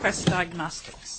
Quest Diagnostics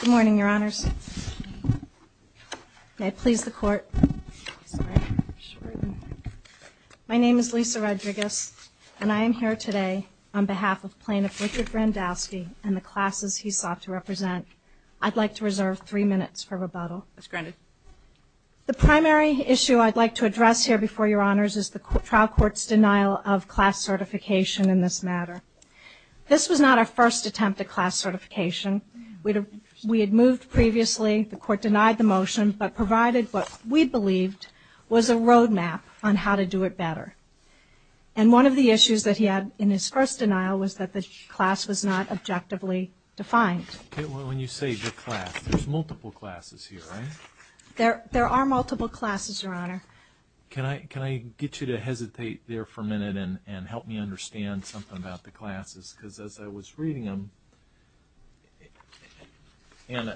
Good morning, Your Honors. May it please the Court, my name is Lisa Rodriguez, and I am here today on behalf of Plaintiff Richard Grandalski and the classes he sought to represent. I'd like to reserve three minutes for rebuttal. The primary issue I'd like to address here before Your Honors is the trial court's denial of class certification in this matter. This was not our first attempt at class certification. We had moved previously, the court denied the motion, but provided what we believed was a road map on how to do it better. And one of the issues that he had in his first denial was that the class was not objectively defined. Okay, well, when you say the class, there's multiple classes here, right? There are multiple classes, Your Honor. Can I get you to hesitate there for a minute and help me understand something about the classes? Because as I was reading them, and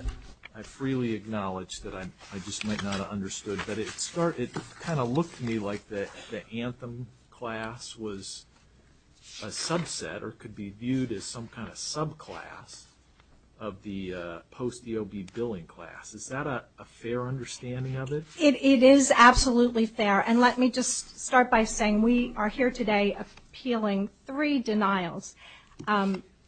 I freely acknowledge that I just might not have understood, but it kind of looked to me like the Anthem class was a subset or could be viewed as some kind of subclass of the post-EOB billing class. Is that a fair understanding of it? It is absolutely fair. And let me just start by saying we are here today appealing three denials.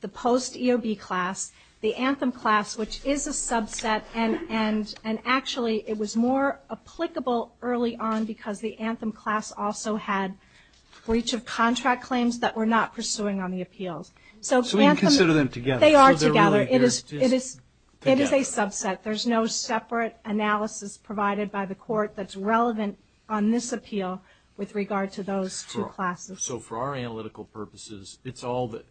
The post-EOB class, the Anthem class, which is a subset, and actually it was more applicable early on because the Anthem class also had breach of contract claims that we're not pursuing on the appeals. So you consider them together? They are together. It is a subset. There's no separate analysis provided by the court that's relevant on this appeal with regard to those two classes. So for our analytical purposes,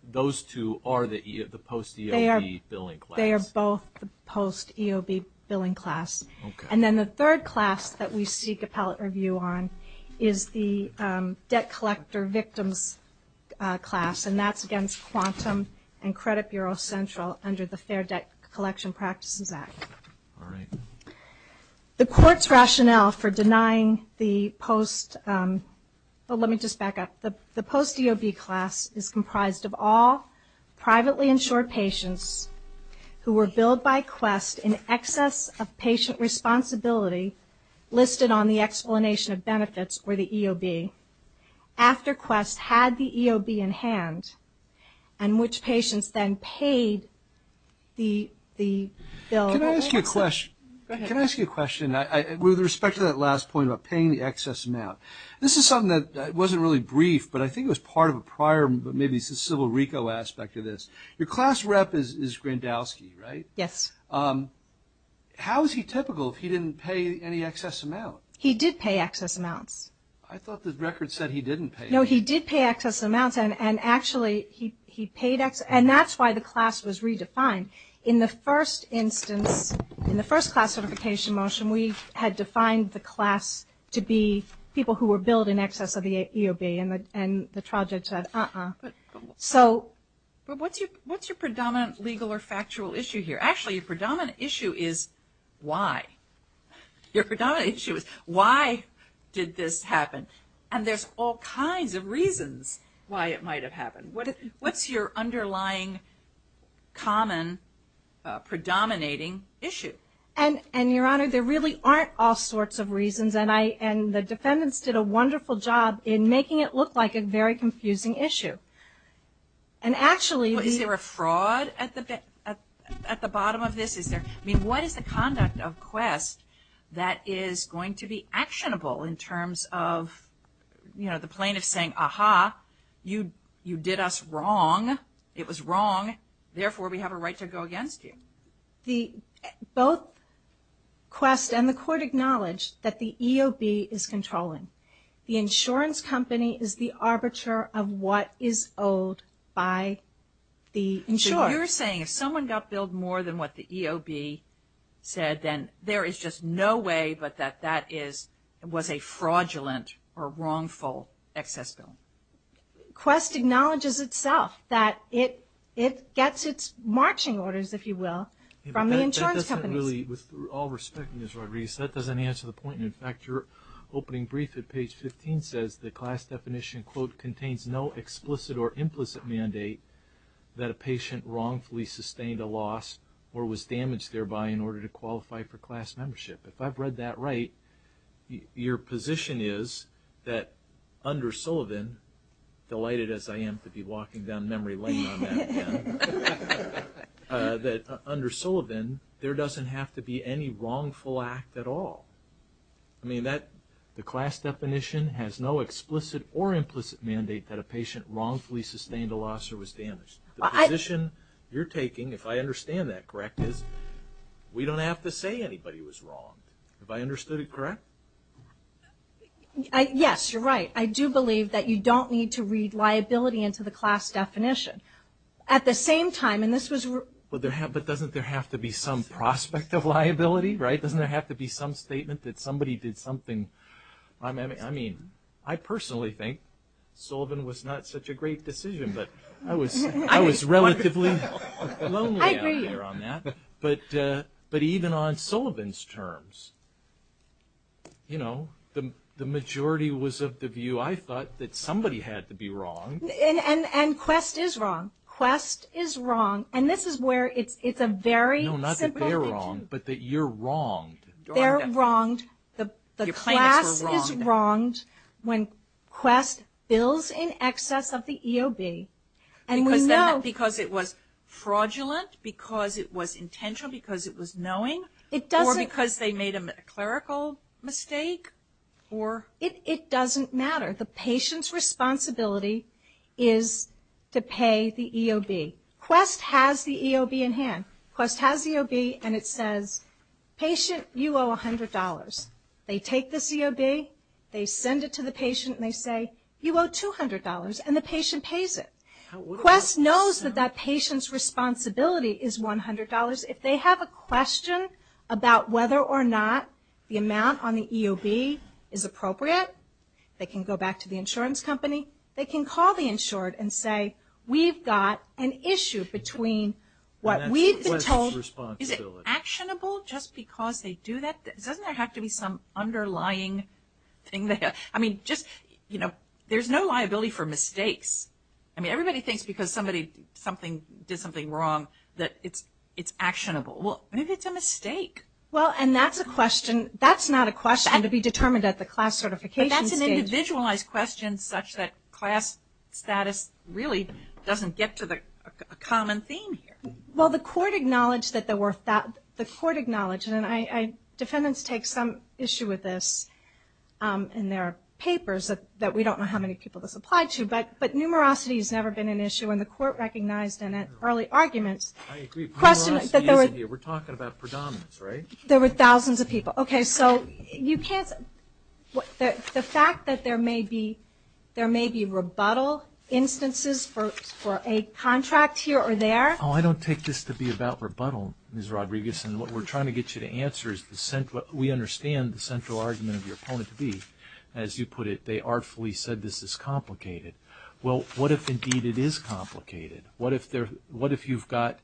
those two are the post-EOB billing class? They are both the post-EOB billing class. And then the third class that we seek appellate review on is the debt collector victims class, and that's against Quantum and Credit Bureau Central under the Fair Debt Collection Practices Act. The court's rationale for denying the post-EOB class is comprised of all privately insured patients who were billed by Quest in excess of patient responsibility listed on the explanation of benefits for the EOB after Quest had the EOB in hand, and which patients then paid the bill. Can I ask you a question? With respect to that last point about paying the excess amount, this is something that wasn't really brief, but I think it was part of a prior maybe Civil RICO aspect of this. Your class rep is Grandowski, right? Yes. How is he typical if he didn't pay any excess amount? He did pay excess amounts. I thought the record said he didn't pay. No, he did pay excess amounts, and actually he paid excess, and that's why the class was in the first classification motion, we had defined the class to be people who were billed in excess of the EOB, and the trial judge said, uh-uh. But what's your predominant legal or factual issue here? Actually, your predominant issue is why. Your predominant issue is why did this happen? And there's all kinds of reasons why it might have happened. What's your underlying, common, predominating issue? And, your Honor, there really aren't all sorts of reasons, and the defendants did a wonderful job in making it look like a very confusing issue. And actually... Well, is there a fraud at the bottom of this? I mean, what is the conduct of Quest that is going to be actionable in terms of, you know, the plaintiff saying, aha, you did us wrong, it was wrong, therefore we have a right to go against you? Both Quest and the court acknowledged that the EOB is controlling. The insurance company is the arbiter of what is owed by the insurer. So you're saying if someone got billed more than what the EOB said, then there is just no way but that that was a fraudulent or wrongful excess bill? Quest acknowledges itself that it gets its marching orders, if you will, from the insurance companies. With all respect, Ms. Rodriguez, that doesn't answer the point. In fact, your opening brief at page 15 says the class definition, quote, contains no explicit or implicit mandate that a patient wrongfully sustained a loss or was damaged thereby in order to qualify for class membership. If I've read that right, your position is that under Sullivan, delighted as I am to be walking down memory lane on that again, that under Sullivan there doesn't have to be any wrongful act at all. I mean, the class definition has no explicit or implicit mandate that a patient wrongfully sustained a loss or was damaged. The position you're taking, if I understand that correct, is we don't have to say anybody was wrong. Have I understood it correct? Yes, you're right. I do believe that you don't need to read liability into the class definition. At the same time, and this was – But doesn't there have to be some prospect of liability, right? Doesn't there have to be some statement that somebody did something? I mean, I personally think Sullivan was not such a great decision, but I was relatively lonely out there on that. I agree. But even on Sullivan's terms, you know, the majority was of the view, I thought that somebody had to be wrong. And Quest is wrong. Quest is wrong. And this is where it's a very simple – No, not that they're wrong, but that you're wronged. They're wronged. The class is wronged when Quest bills in excess of the EOB. Because it was fraudulent, because it was intentional, because it was knowing, or because they made a clerical mistake? It doesn't matter. The patient's responsibility is to pay the EOB. Quest has the EOB in hand. Quest has the EOB, and it says, patient, you owe $100. They take this EOB, they send it to the patient, and they say, you owe $200, and the patient pays it. Quest knows that that patient's responsibility is $100. If they have a question about whether or not the amount on the EOB is appropriate, they can go back to the insurance company, they can call the insured and say, we've got an issue between what we've been told. Is it actionable just because they do that? Doesn't there have to be some underlying thing? I mean, just, you know, there's no liability for mistakes. I mean, everybody thinks because somebody did something wrong that it's actionable. Well, maybe it's a mistake. Well, and that's a question – that's not a question to be determined at the class certification stage. Individualized questions such that class status really doesn't get to the common theme here. Well, the court acknowledged that there were – the court acknowledged, and defendants take some issue with this in their papers that we don't know how many people this applied to, but numerosity has never been an issue, and the court recognized in early arguments. I agree. We're talking about predominance, right? There were thousands of people. Okay, so you can't – the fact that there may be – there may be rebuttal instances for a contract here or there. Oh, I don't take this to be about rebuttal, Ms. Rodriguez, and what we're trying to get you to answer is the – we understand the central argument of your point to be. As you put it, they artfully said this is complicated. Well, what if, indeed, it is complicated? What if you've got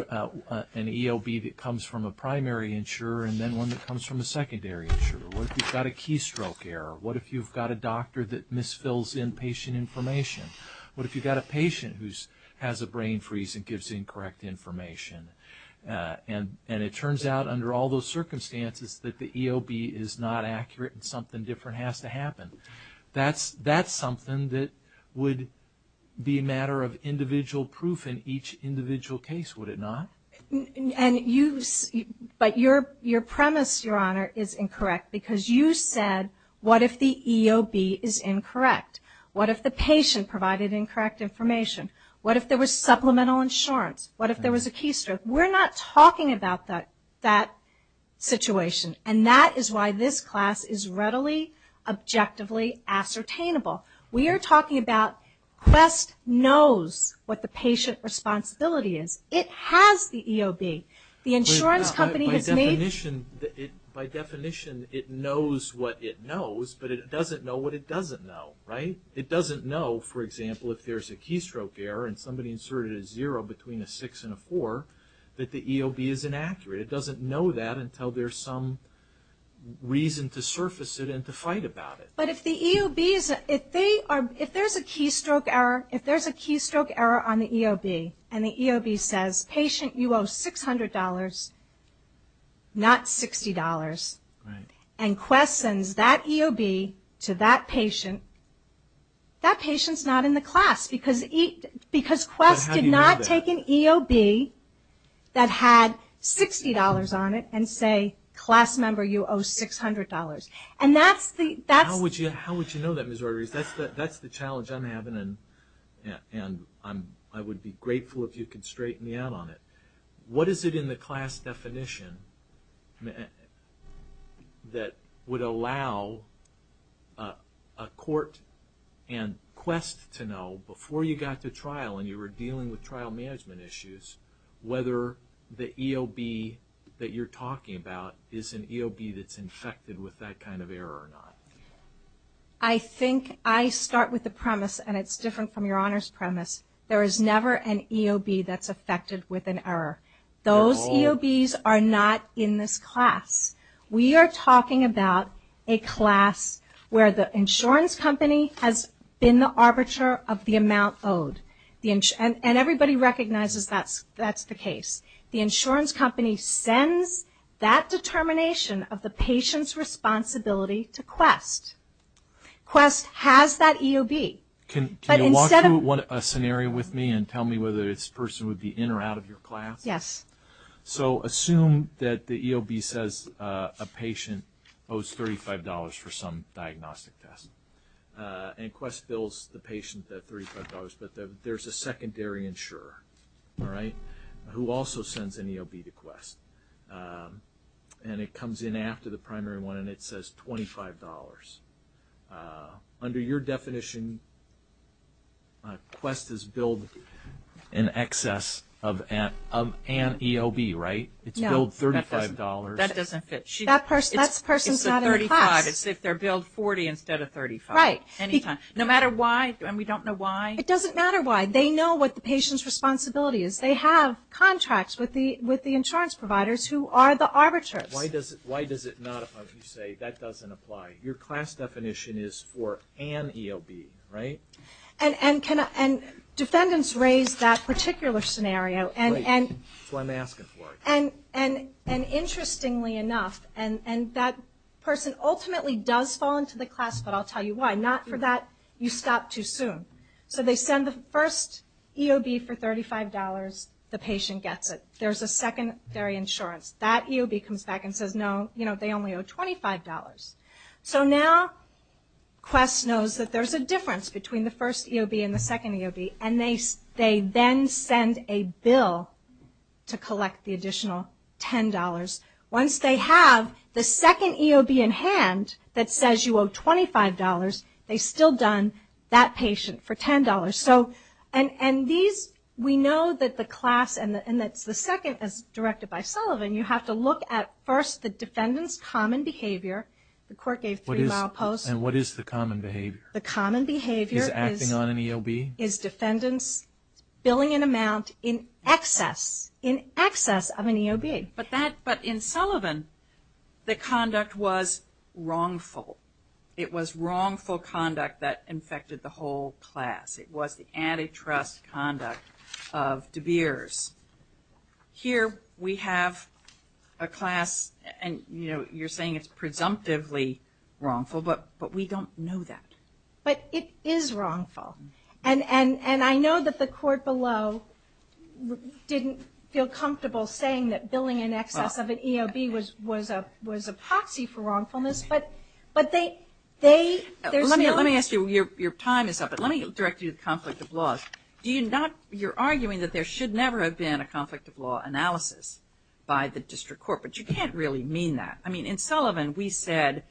an ELB that comes from a primary insurer and then one that comes from a secondary insurer? What if you've got a keystroke error? What if you've got a doctor that misfills inpatient information? What if you've got a patient who has a brain freeze and gives incorrect information? And it turns out, under all those circumstances, that the ELB is not accurate and something different has to happen. That's something that would be a matter of individual proof in each individual case, would it not? But your premise, Your Honor, is incorrect because you said what if the ELB is incorrect? What if the patient provided incorrect information? What if there was supplemental insurance? What if there was a keystroke? We're not talking about that situation, and that is why this class is readily, objectively ascertainable. We are talking about Quest knows what the patient responsibility is. It has the ELB. The insurance company has made... By definition, it knows what it knows, but it doesn't know what it doesn't know, right? It doesn't know, for example, if there's a keystroke error and somebody inserted a zero between a six and a four, that the ELB is inaccurate. It doesn't know that until there's some reason to surface it and to fight about it. But if the ELB is... If there's a keystroke error on the ELB and the ELB says, patient, you owe $600, not $60, and Quest sends that ELB to that patient, that patient's not in the class because Quest did not take an ELB that had $60 on it and say, class member, you owe $600. And that's the... How would you know that, Ms. Rodriguez? That's the challenge I'm having, and I would be grateful if you could straighten me out on it. What is it in the class definition that would allow a court and Quest to know, before you got to trial and you were dealing with trial management issues, whether the ELB that you're talking about is an ELB that's infected with that kind of error or not? I think I start with the premise, and it's different from Your Honor's premise. There is never an ELB that's affected with an error. Those ELBs are not in this class. We are talking about a class where the insurance company has been the arbiter of the amount owed. And everybody recognizes that's the case. The insurance company sends that determination of the patient's responsibility to Quest. Quest has that ELB, but instead of... Can you walk through a scenario with me and tell me whether this person would be in or out of your class? Yes. So assume that the ELB says a patient owes $35 for some diagnostic test. And Quest bills the patient that $35. But there's a secondary insurer, all right, who also sends an ELB to Quest. And it comes in after the primary one, and it says $25. Under your definition, Quest is billed in excess of an ELB, right? It's billed $35. That doesn't fit. That person's not in the class. It's if they're billed $40 instead of $35. Right. No matter why, and we don't know why. It doesn't matter why. They know what the patient's responsibility is. They have contracts with the insurance providers who are the arbiters. Why does it not apply if you say that doesn't apply? Your class definition is for an ELB, right? And defendants raise that particular scenario. Right. That's why I'm asking for it. And interestingly enough, and that person ultimately does fall into the class, but I'll tell you why. Not for that, you stop too soon. So they send the first ELB for $35. The patient gets it. There's a secondary insurance. That ELB comes back and says, no, they only owe $25. So now Quest knows that there's a difference between the first ELB and the second ELB, and they then send a bill to collect the additional $10. Once they have the second ELB in hand that says you owe $25, they've still done that patient for $10. And we know that the class and that the second is directed by Sullivan. You have to look at first the defendant's common behavior. The court gave three-mile posts. And what is the common behavior? The common behavior is defendants billing an amount in excess of an ELB. But in Sullivan, the conduct was wrongful. It was wrongful conduct that infected the whole class. It was the antitrust conduct of DeBeers. Here we have a class, and, you know, you're saying it's presumptively wrongful, but we don't know that. But it is wrongful. And I know that the court below didn't feel comfortable saying that billing in excess of an ELB was a proxy for wrongfulness. Let me ask you. Your time is up. But let me direct you to conflict of laws. You're arguing that there should never have been a conflict of law analysis by the district court, but you can't really mean that. I mean, in Sullivan we said,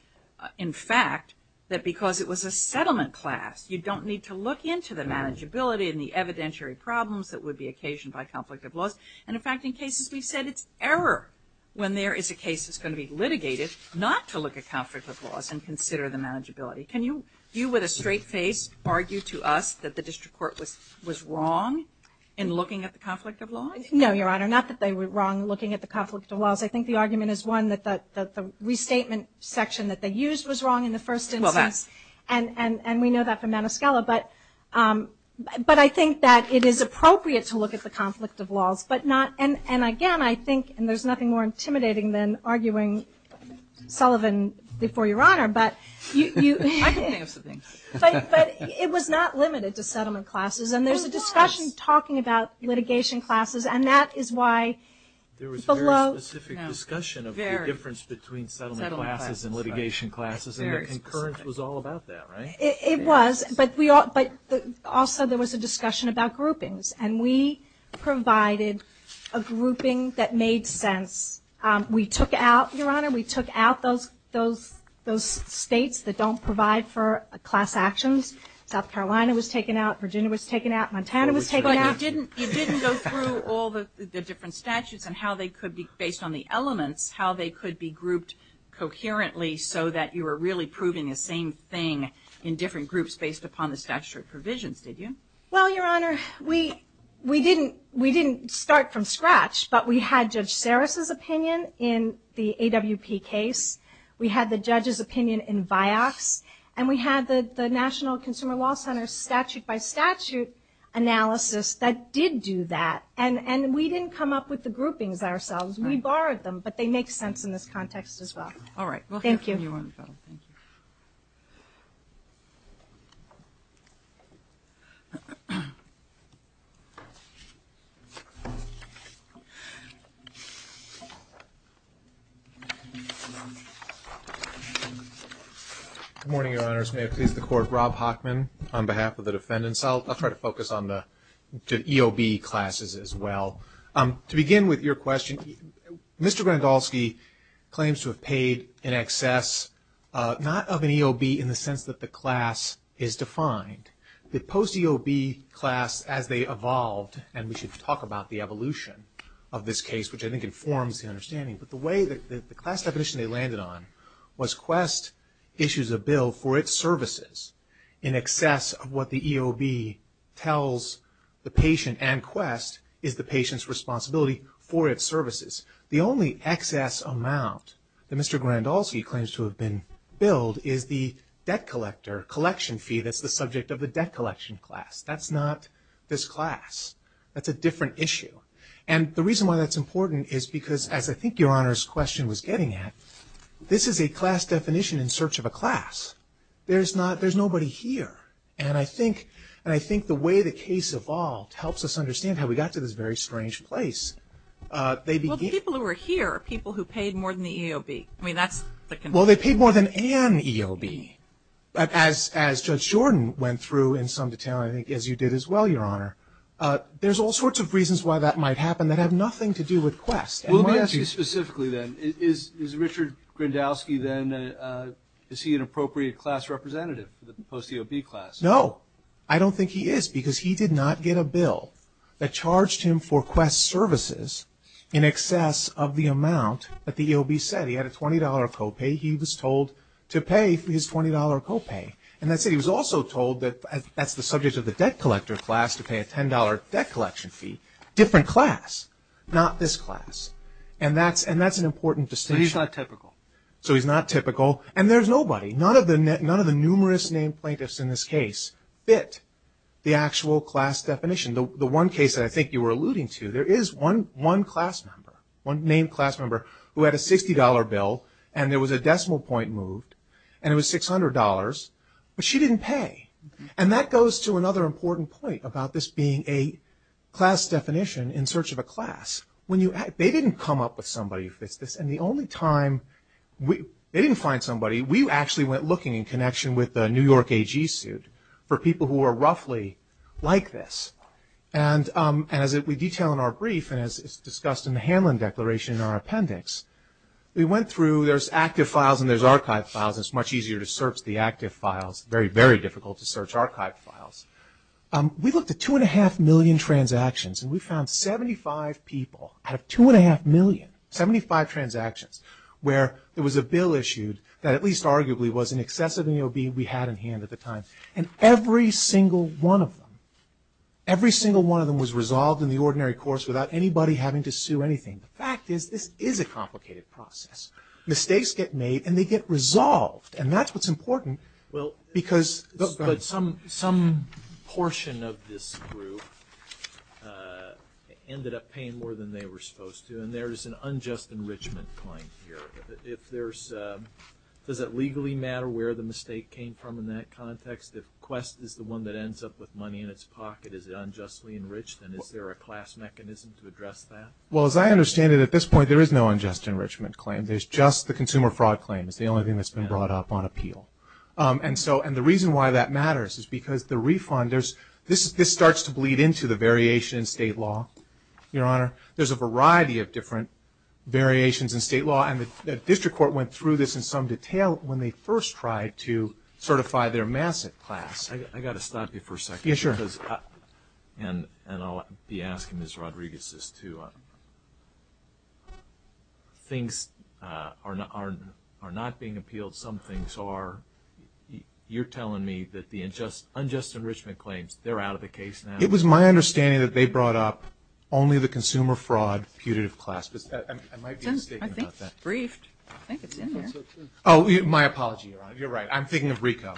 in fact, that because it was a settlement class, you don't need to look into the manageability and the evidentiary problems that would be occasioned by conflict of laws. And, in fact, in cases we've said it's error when there is a case that's going to be litigated not to look at conflict of laws and consider the manageability. Can you, with a straight face, argue to us that the district court was wrong in looking at the conflict of laws? No, Your Honor, not that they were wrong looking at the conflict of laws. I think the argument is, one, that the restatement section that they used was wrong in the first instance, and we know that from Manoskela. But I think that it is appropriate to look at the conflict of laws. And, again, I think, and there's nothing more intimidating than arguing Sullivan before Your Honor. I can think of some things. But it was not limited to settlement classes. And there's a discussion talking about litigation classes, and that is why below... There was a very specific discussion of the difference between settlement classes and litigation classes, and the concurrence was all about that, right? It was, but also there was a discussion about groupings. And we provided a grouping that made sense. We took out, Your Honor, we took out those states that don't provide for class actions. South Carolina was taken out. Virginia was taken out. Montana was taken out. But you didn't go through all the different statutes and how they could be, based on the elements, how they could be grouped coherently so that you were really proving the same thing in different groups based upon the statutory provisions, did you? Well, Your Honor, we didn't start from scratch, but we had Judge Sarris's opinion in the AWP case. We had the judge's opinion in VIOX. And we had the National Consumer Law Center's statute-by-statute analysis that did do that. And we didn't come up with the groupings ourselves. We borrowed them, but they make sense in this context as well. All right. Thank you. Good morning, Your Honors. May it please the Court. Rob Hochman on behalf of the defendants. I'll try to focus on the EOB classes as well. To begin with your question, Mr. Grandolski claims to have paid in excess, not of an EOB in the sense that the class is defined. The post-EOB class, as they evolved, and we should talk about the evolution of this case, which I think informs the understanding. But the way that the class definition they landed on was Quest issues a bill for its services in excess of what the EOB tells the patient. And Quest is the patient's responsibility for its services. The only excess amount that Mr. Grandolski claims to have been billed is the debt collector collection fee that's the subject of the debt collection class. That's not this class. That's a different issue. And the reason why that's important is because, as I think Your Honor's question was getting at, this is a class definition in search of a class. There's nobody here. And I think the way the case evolved helps us understand how we got to this very strange place. Well, the people who are here are people who paid more than the EOB. I mean, that's the conclusion. Well, they paid more than an EOB. But as Judge Jordan went through in some detail, I think as you did as well, Your Honor, there's all sorts of reasons why that might happen that have nothing to do with Quest. Well, let me ask you specifically then, is Richard Grandolski then, is he an appropriate class representative for the post-EOB class? No. I don't think he is because he did not get a bill that charged him for Quest services in excess of the amount that the EOB said. He had a $20 co-pay. He was told to pay his $20 co-pay. And that said, he was also told that that's the subject of the debt collector class, to pay a $10 debt collection fee. Different class. Not this class. And that's an important distinction. But he's not typical. So he's not typical. And there's nobody. None of the numerous named plaintiffs in this case fit the actual class definition. The one case that I think you were alluding to, there is one class member, one named class member, who had a $60 bill, and there was a decimal point moved, and it was $600. But she didn't pay. And that goes to another important point about this being a class definition in search of a class. They didn't come up with somebody who fits this. And the only time they didn't find somebody, we actually went looking in connection with the New York AG suit for people who are roughly like this. And as we detail in our brief, and as is discussed in the Hanlon Declaration in our appendix, we went through, there's active files and there's archive files. It's much easier to search the active files. Very, very difficult to search archive files. We looked at 2.5 million transactions, and we found 75 people out of 2.5 million, 75 transactions, where there was a bill issued that at least arguably was in excess of an EOB we had in hand at the time. And every single one of them, every single one of them was resolved in the ordinary course without anybody having to sue anything. The fact is, this is a complicated process. Mistakes get made, and they get resolved. And that's what's important. But some portion of this group ended up paying more than they were supposed to, and there is an unjust enrichment claim here. Does it legally matter where the mistake came from in that context? If Quest is the one that ends up with money in its pocket, is it unjustly enriched, and is there a class mechanism to address that? Well, as I understand it, at this point, there is no unjust enrichment claim. There's just the consumer fraud claim. It's the only thing that's been brought up on appeal. And the reason why that matters is because the refund, this starts to bleed into the variation in state law, Your Honor. There's a variety of different variations in state law, and the district court went through this in some detail when they first tried to certify their massive class. I've got to stop you for a second. Yeah, sure. And I'll be asking Ms. Rodriguez this, too. Things are not being appealed. Some things are. You're telling me that the unjust enrichment claims, they're out of the case now? It was my understanding that they brought up only the consumer fraud putative class, but I might be mistaken about that. I think it's briefed. I think it's in there. Oh, my apology, Your Honor. You're right. I'm thinking of RICO.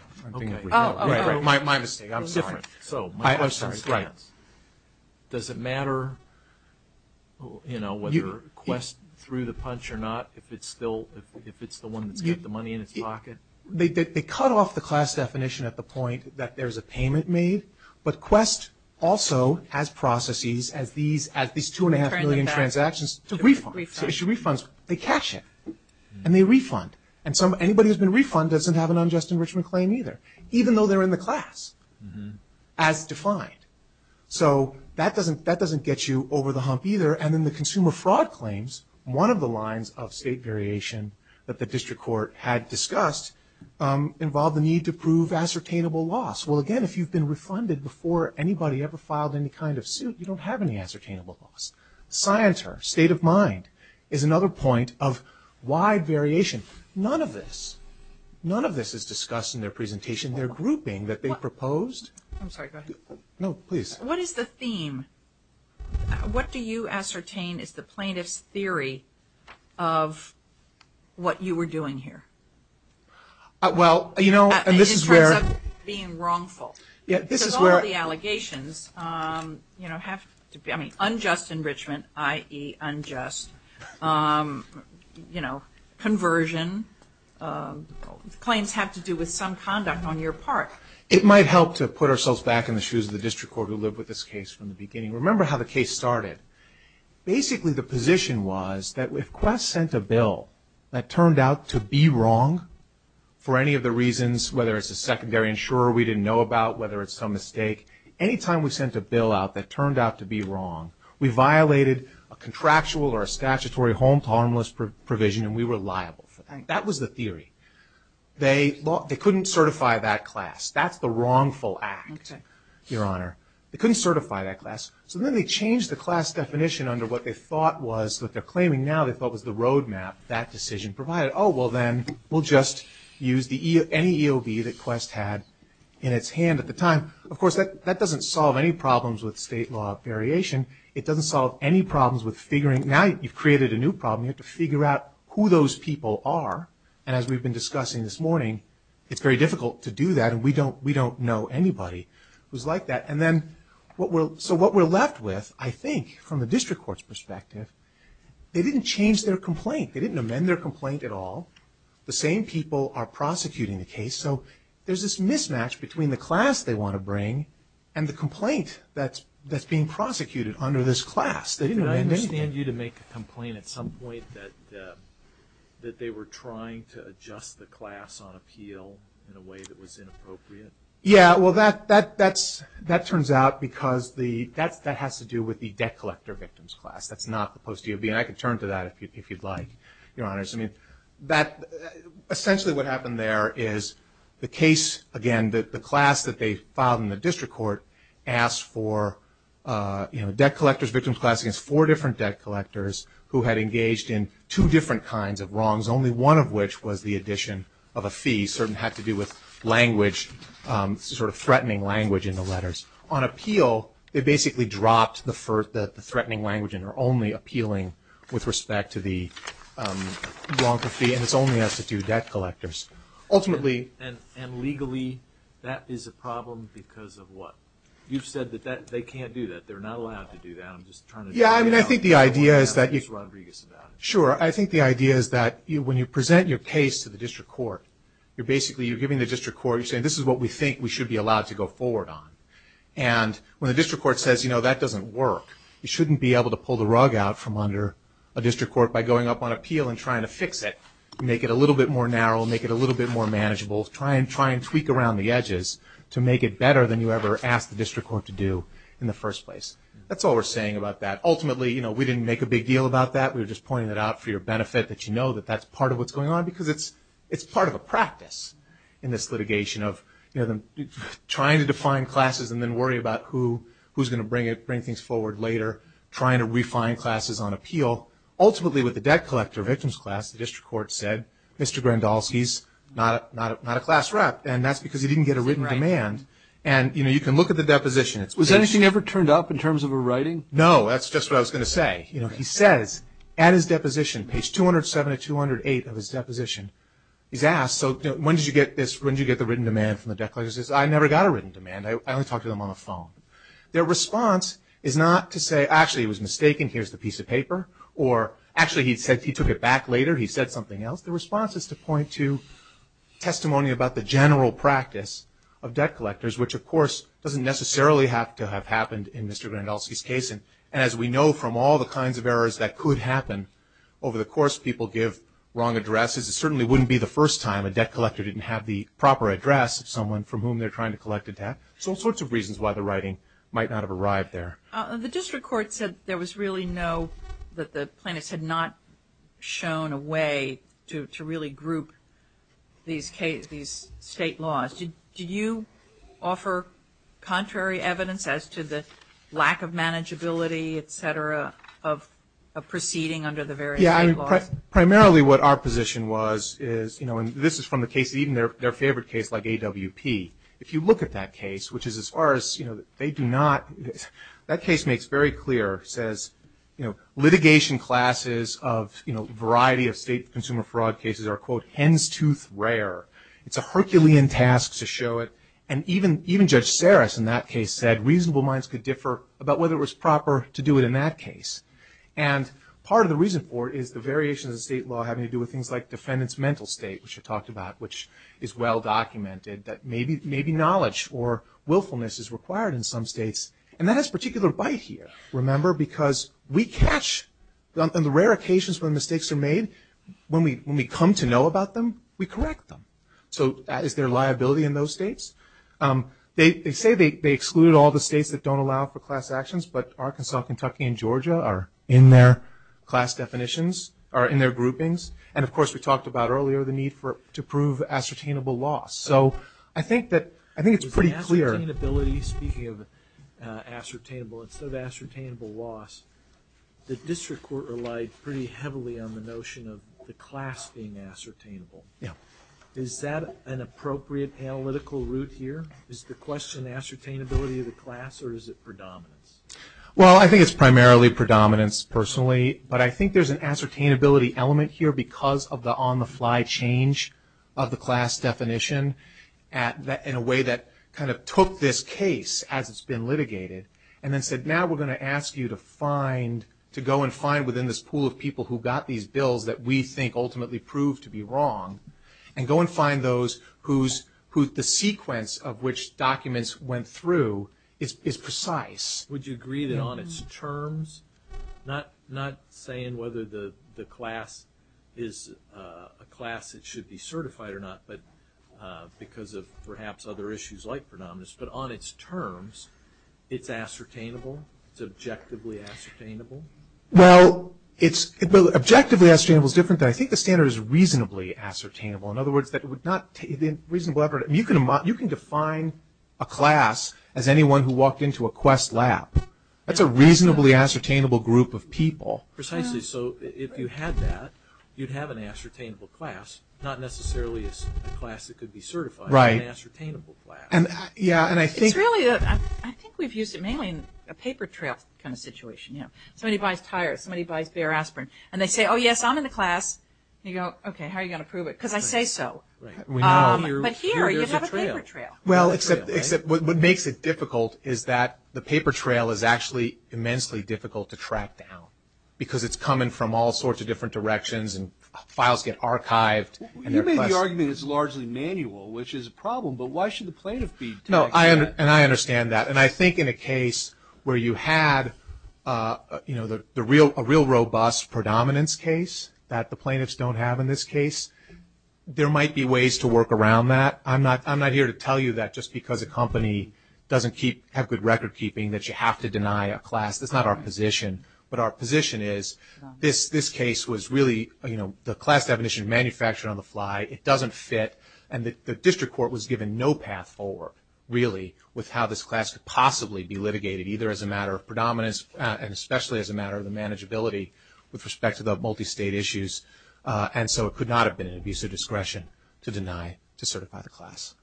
My mistake. I'm sorry. I'm sorry. Does it matter, you know, whether Quest threw the punch or not, if it's the one that's got the money in its pocket? They cut off the class definition at the point that there's a payment made, but Quest also has processes as these 2.5 million transactions to refund. So they should refund. They cash it, and they refund. And anybody who's been refunded doesn't have an unjust enrichment claim either, even though they're in the class as defined. So that doesn't get you over the hump either. And then the consumer fraud claims, one of the lines of state variation that the district court had discussed involved the need to prove ascertainable loss. Well, again, if you've been refunded before anybody ever filed any kind of suit, you don't have any ascertainable loss. Scienter, state of mind, is another point of wide variation. None of this, none of this is discussed in their presentation. They're grouping that they proposed. I'm sorry. Go ahead. No, please. What is the theme? What do you ascertain is the plaintiff's theory of what you were doing here? Well, you know, and this is where. It ends up being wrongful. Yeah, this is where. All the allegations, you know, have to be, I mean, unjust enrichment, i.e., unjust, you know, conversion. Claims have to do with some conduct on your part. It might help to put ourselves back in the shoes of the district court who lived with this case from the beginning. Remember how the case started. Basically the position was that if Quest sent a bill that turned out to be wrong for any of the reasons, whether it's a secondary insurer we didn't know about, whether it's some mistake, any time we sent a bill out that turned out to be wrong, we violated a contractual or a statutory home to homeless provision, and we were liable for that. That was the theory. They couldn't certify that class. That's the wrongful act, Your Honor. They couldn't certify that class. So then they changed the class definition under what they thought was, what they're claiming now, they thought was the roadmap that decision provided. Oh, well, then we'll just use any EOB that Quest had in its hand at the time. Of course, that doesn't solve any problems with state law variation. It doesn't solve any problems with figuring. Now you've created a new problem. You have to figure out who those people are. And as we've been discussing this morning, it's very difficult to do that, and we don't know anybody who's like that. So what we're left with, I think, from the district court's perspective, they didn't change their complaint. They didn't amend their complaint at all. The same people are prosecuting the case. So there's this mismatch between the class they want to bring and the complaint that's being prosecuted under this class. They didn't amend anything. Did I understand you to make a complaint at some point that they were trying to adjust the class on appeal in a way that was inappropriate? Yeah, well, that turns out because that has to do with the debt collector victim's class. That's not the post DOB, and I can turn to that if you'd like, Your Honors. I mean, essentially what happened there is the case, again, the class that they filed in the district court asked for debt collectors, victim's class against four different debt collectors who had engaged in two different kinds of wrongs, only one of which was the addition of a fee. It certainly had to do with language, sort of threatening language in the letters. On appeal, they basically dropped the threatening language and are only appealing with respect to the wrong for fee, and this only has to do with debt collectors. And legally, that is a problem because of what? You've said that they can't do that. They're not allowed to do that. I'm just trying to figure it out. Yeah, I mean, I think the idea is that when you present your case to the district court, you're basically giving the district court, you're saying this is what we think we should be allowed to go forward on. And when the district court says, you know, that doesn't work, you shouldn't be able to pull the rug out from under a district court by going up on appeal and trying to fix it, make it a little bit more narrow, make it a little bit more manageable, try and tweak around the edges to make it better than you ever asked the district court to do in the first place. That's all we're saying about that. Ultimately, you know, we didn't make a big deal about that. We were just pointing it out for your benefit that you know that that's part of what's going on because it's part of a practice in this litigation of, you know, trying to define classes and then worry about who's going to bring it, bring things forward later, trying to refine classes on appeal. Ultimately, with the debt collector victims class, the district court said Mr. Grandolski's not a class rep and that's because he didn't get a written demand. And, you know, you can look at the deposition. Was anything ever turned up in terms of a writing? No, that's just what I was going to say. You know, he says at his deposition, page 207 to 208 of his deposition, he's asked, so when did you get this, when did you get the written demand from the debt collectors? He says, I never got a written demand. I only talked to them on the phone. Their response is not to say actually he was mistaken, here's the piece of paper, or actually he said he took it back later, he said something else. The response is to point to testimony about the general practice of debt collectors, which of course doesn't necessarily have to have happened in Mr. Grandolski's case. And as we know from all the kinds of errors that could happen over the course, people give wrong addresses. It certainly wouldn't be the first time a debt collector didn't have the proper address of someone from whom they're trying to collect a debt. So all sorts of reasons why the writing might not have arrived there. The district court said there was really no, that the plaintiffs had not shown a way to really group these state laws. Did you offer contrary evidence as to the lack of manageability, et cetera, of proceeding under the various state laws? Yeah, primarily what our position was is, you know, and this is from the case, even their favorite case like AWP. If you look at that case, which is as far as, you know, they do not, that case makes very clear, says, you know, litigation classes of, you know, variety of state consumer fraud cases are, quote, hen's tooth rare. It's a Herculean task to show it. And even Judge Saris in that case said reasonable minds could differ about whether it was proper to do it in that case. And part of the reason for it is the variations of state law having to do with things like defendant's mental state, which I talked about, which is well documented, that maybe knowledge or willfulness is required in some states. And that has particular bite here, remember, because we catch, on the rare occasions when mistakes are made, when we come to know about them, we correct them. So is there liability in those states? They say they exclude all the states that don't allow for class actions, but Arkansas, Kentucky, and Georgia are in their class definitions, are in their groupings. And, of course, we talked about earlier the need for, to prove ascertainable loss. So I think that, I think it's pretty clear. Ascertainability, speaking of ascertainable, instead of ascertainable loss, the district court relied pretty heavily on the notion of the class being ascertainable. Is that an appropriate analytical route here? Is the question ascertainability of the class or is it predominance? Well, I think it's primarily predominance, personally. But I think there's an ascertainability element here because of the on-the-fly change of the class definition in a way that kind of took this case as it's been litigated and then said, now we're going to ask you to find, to go and find within this pool of people who got these bills that we think ultimately proved to be wrong, and go and find those whose, the sequence of which documents went through is precise. Would you agree that on its terms, not saying whether the class is a class that should be certified or not, but because of perhaps other issues like predominance, but on its terms, it's ascertainable? It's objectively ascertainable? Well, objectively ascertainable is different. I think the standard is reasonably ascertainable. In other words, it would not, you can define a class as anyone who walked into a Quest lab. That's a reasonably ascertainable group of people. Precisely, so if you had that, you'd have an ascertainable class, not necessarily a class that could be certified, but an ascertainable class. It's really, I think we've used it mainly in a paper trail kind of situation. Somebody buys tires, somebody buys bare aspirin, and they say, oh yes, I'm in the class. You go, okay, how are you going to prove it? Because I say so. But here, you have a paper trail. Well, except what makes it difficult is that the paper trail is actually immensely difficult to track down, because it's coming from all sorts of different directions, You made the argument it's largely manual, which is a problem, but why should the plaintiff be doing that? No, and I understand that. And I think in a case where you had a real robust predominance case that the plaintiffs don't have in this case, there might be ways to work around that. I'm not here to tell you that just because a company doesn't have good record keeping that you have to deny a class. That's not our position. But our position is this case was really, the class definition manufactured on the fly. It doesn't fit. And the district court was given no path forward, really, with how this class could possibly be litigated, either as a matter of predominance, and especially as a matter of the manageability with respect to the multi-state issues. And so it could not have been an abuse of discretion to deny, to certify the class.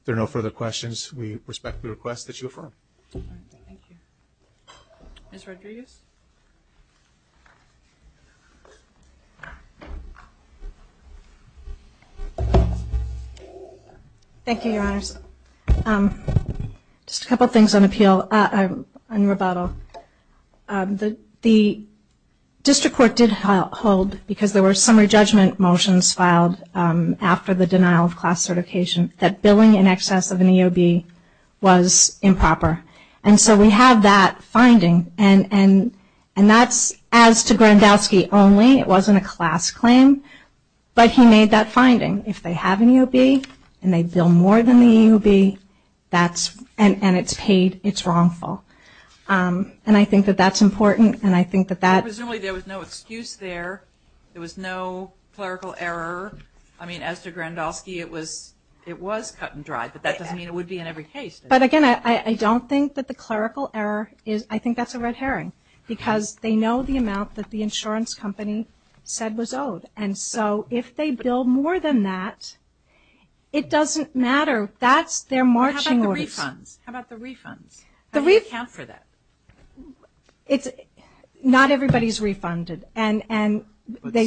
If there are no further questions, we respectfully request that you affirm. Thank you. Ms. Rodriguez? Thank you, Your Honors. Just a couple things on appeal, on rebuttal. The district court did hold, because there were summary judgment motions filed after the denial of class certification, that billing in excess of an EOB was improper. And so we have that finding. And that's as to Grandowski only. It wasn't a class claim. But he made that finding. If they have an EOB and they bill more than the EOB, and it's paid, it's wrongful. And I think that that's important. And I think that that. Presumably there was no excuse there. There was no clerical error. I mean, as to Grandowski, it was cut and dried. But that doesn't mean it would be in every case. But, again, I don't think that the clerical error is, I think that's a red herring. Because they know the amount that the insurance company said was owed. And so if they bill more than that, it doesn't matter. That's their marching order. How about the refunds? How about the refunds? How do you account for that? Not everybody is refunded. But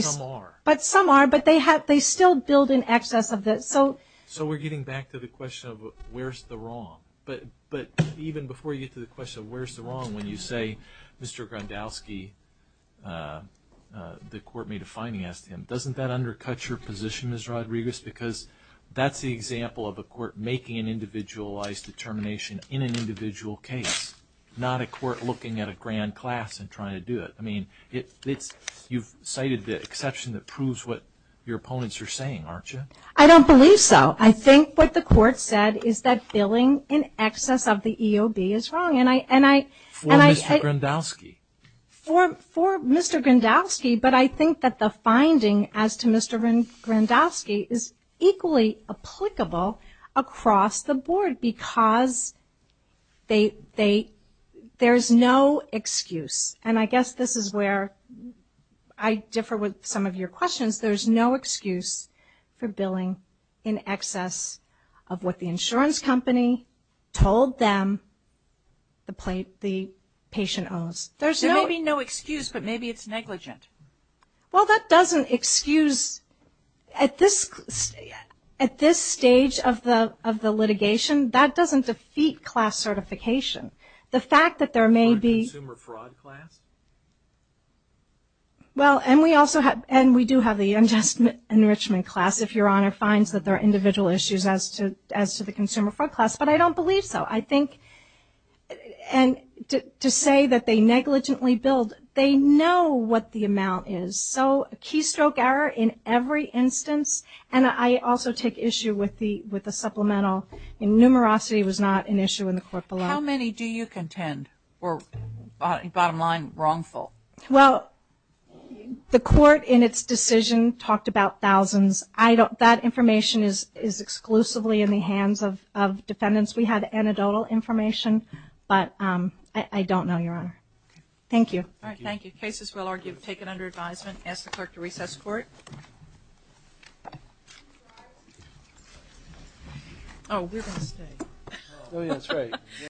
some are. But some are. But they still billed in excess of this. So we're getting back to the question of where's the wrong. But even before you get to the question of where's the wrong, when you say Mr. Grandowski, the court may have financed him, doesn't that undercut your position, Ms. Rodriguez? Because that's the example of a court making an individualized determination in an individual case, not a court looking at a grand class and trying to do it. I mean, you've cited the exception that proves what your opponents are saying, aren't you? I don't believe so. I think what the court said is that billing in excess of the EOB is wrong. For Mr. Grandowski. For Mr. Grandowski. But I think that the finding as to Mr. Grandowski is equally applicable across the board because there's no excuse. And I guess this is where I differ with some of your questions. There's no excuse for billing in excess of what the insurance company told them the patient owes. There may be no excuse, but maybe it's negligent. Well, that doesn't excuse. At this stage of the litigation, that doesn't defeat class certification. The fact that there may be. Consumer fraud class? Well, and we do have the enrichment class, if Your Honor finds that there are individual issues as to the consumer fraud class, but I don't believe so. I think to say that they negligently billed, they know what the amount is. So a keystroke error in every instance. And I also take issue with the supplemental. Numerosity was not an issue in the court below. How many do you contend were, bottom line, wrongful? Well, the court in its decision talked about thousands. That information is exclusively in the hands of defendants. We have anecdotal information, but I don't know, Your Honor. Thank you. All right, thank you. Cases, we'll argue, taken under advisement. Ask the clerk to recess court. Oh, we're going to stay. Oh, yeah, that's right.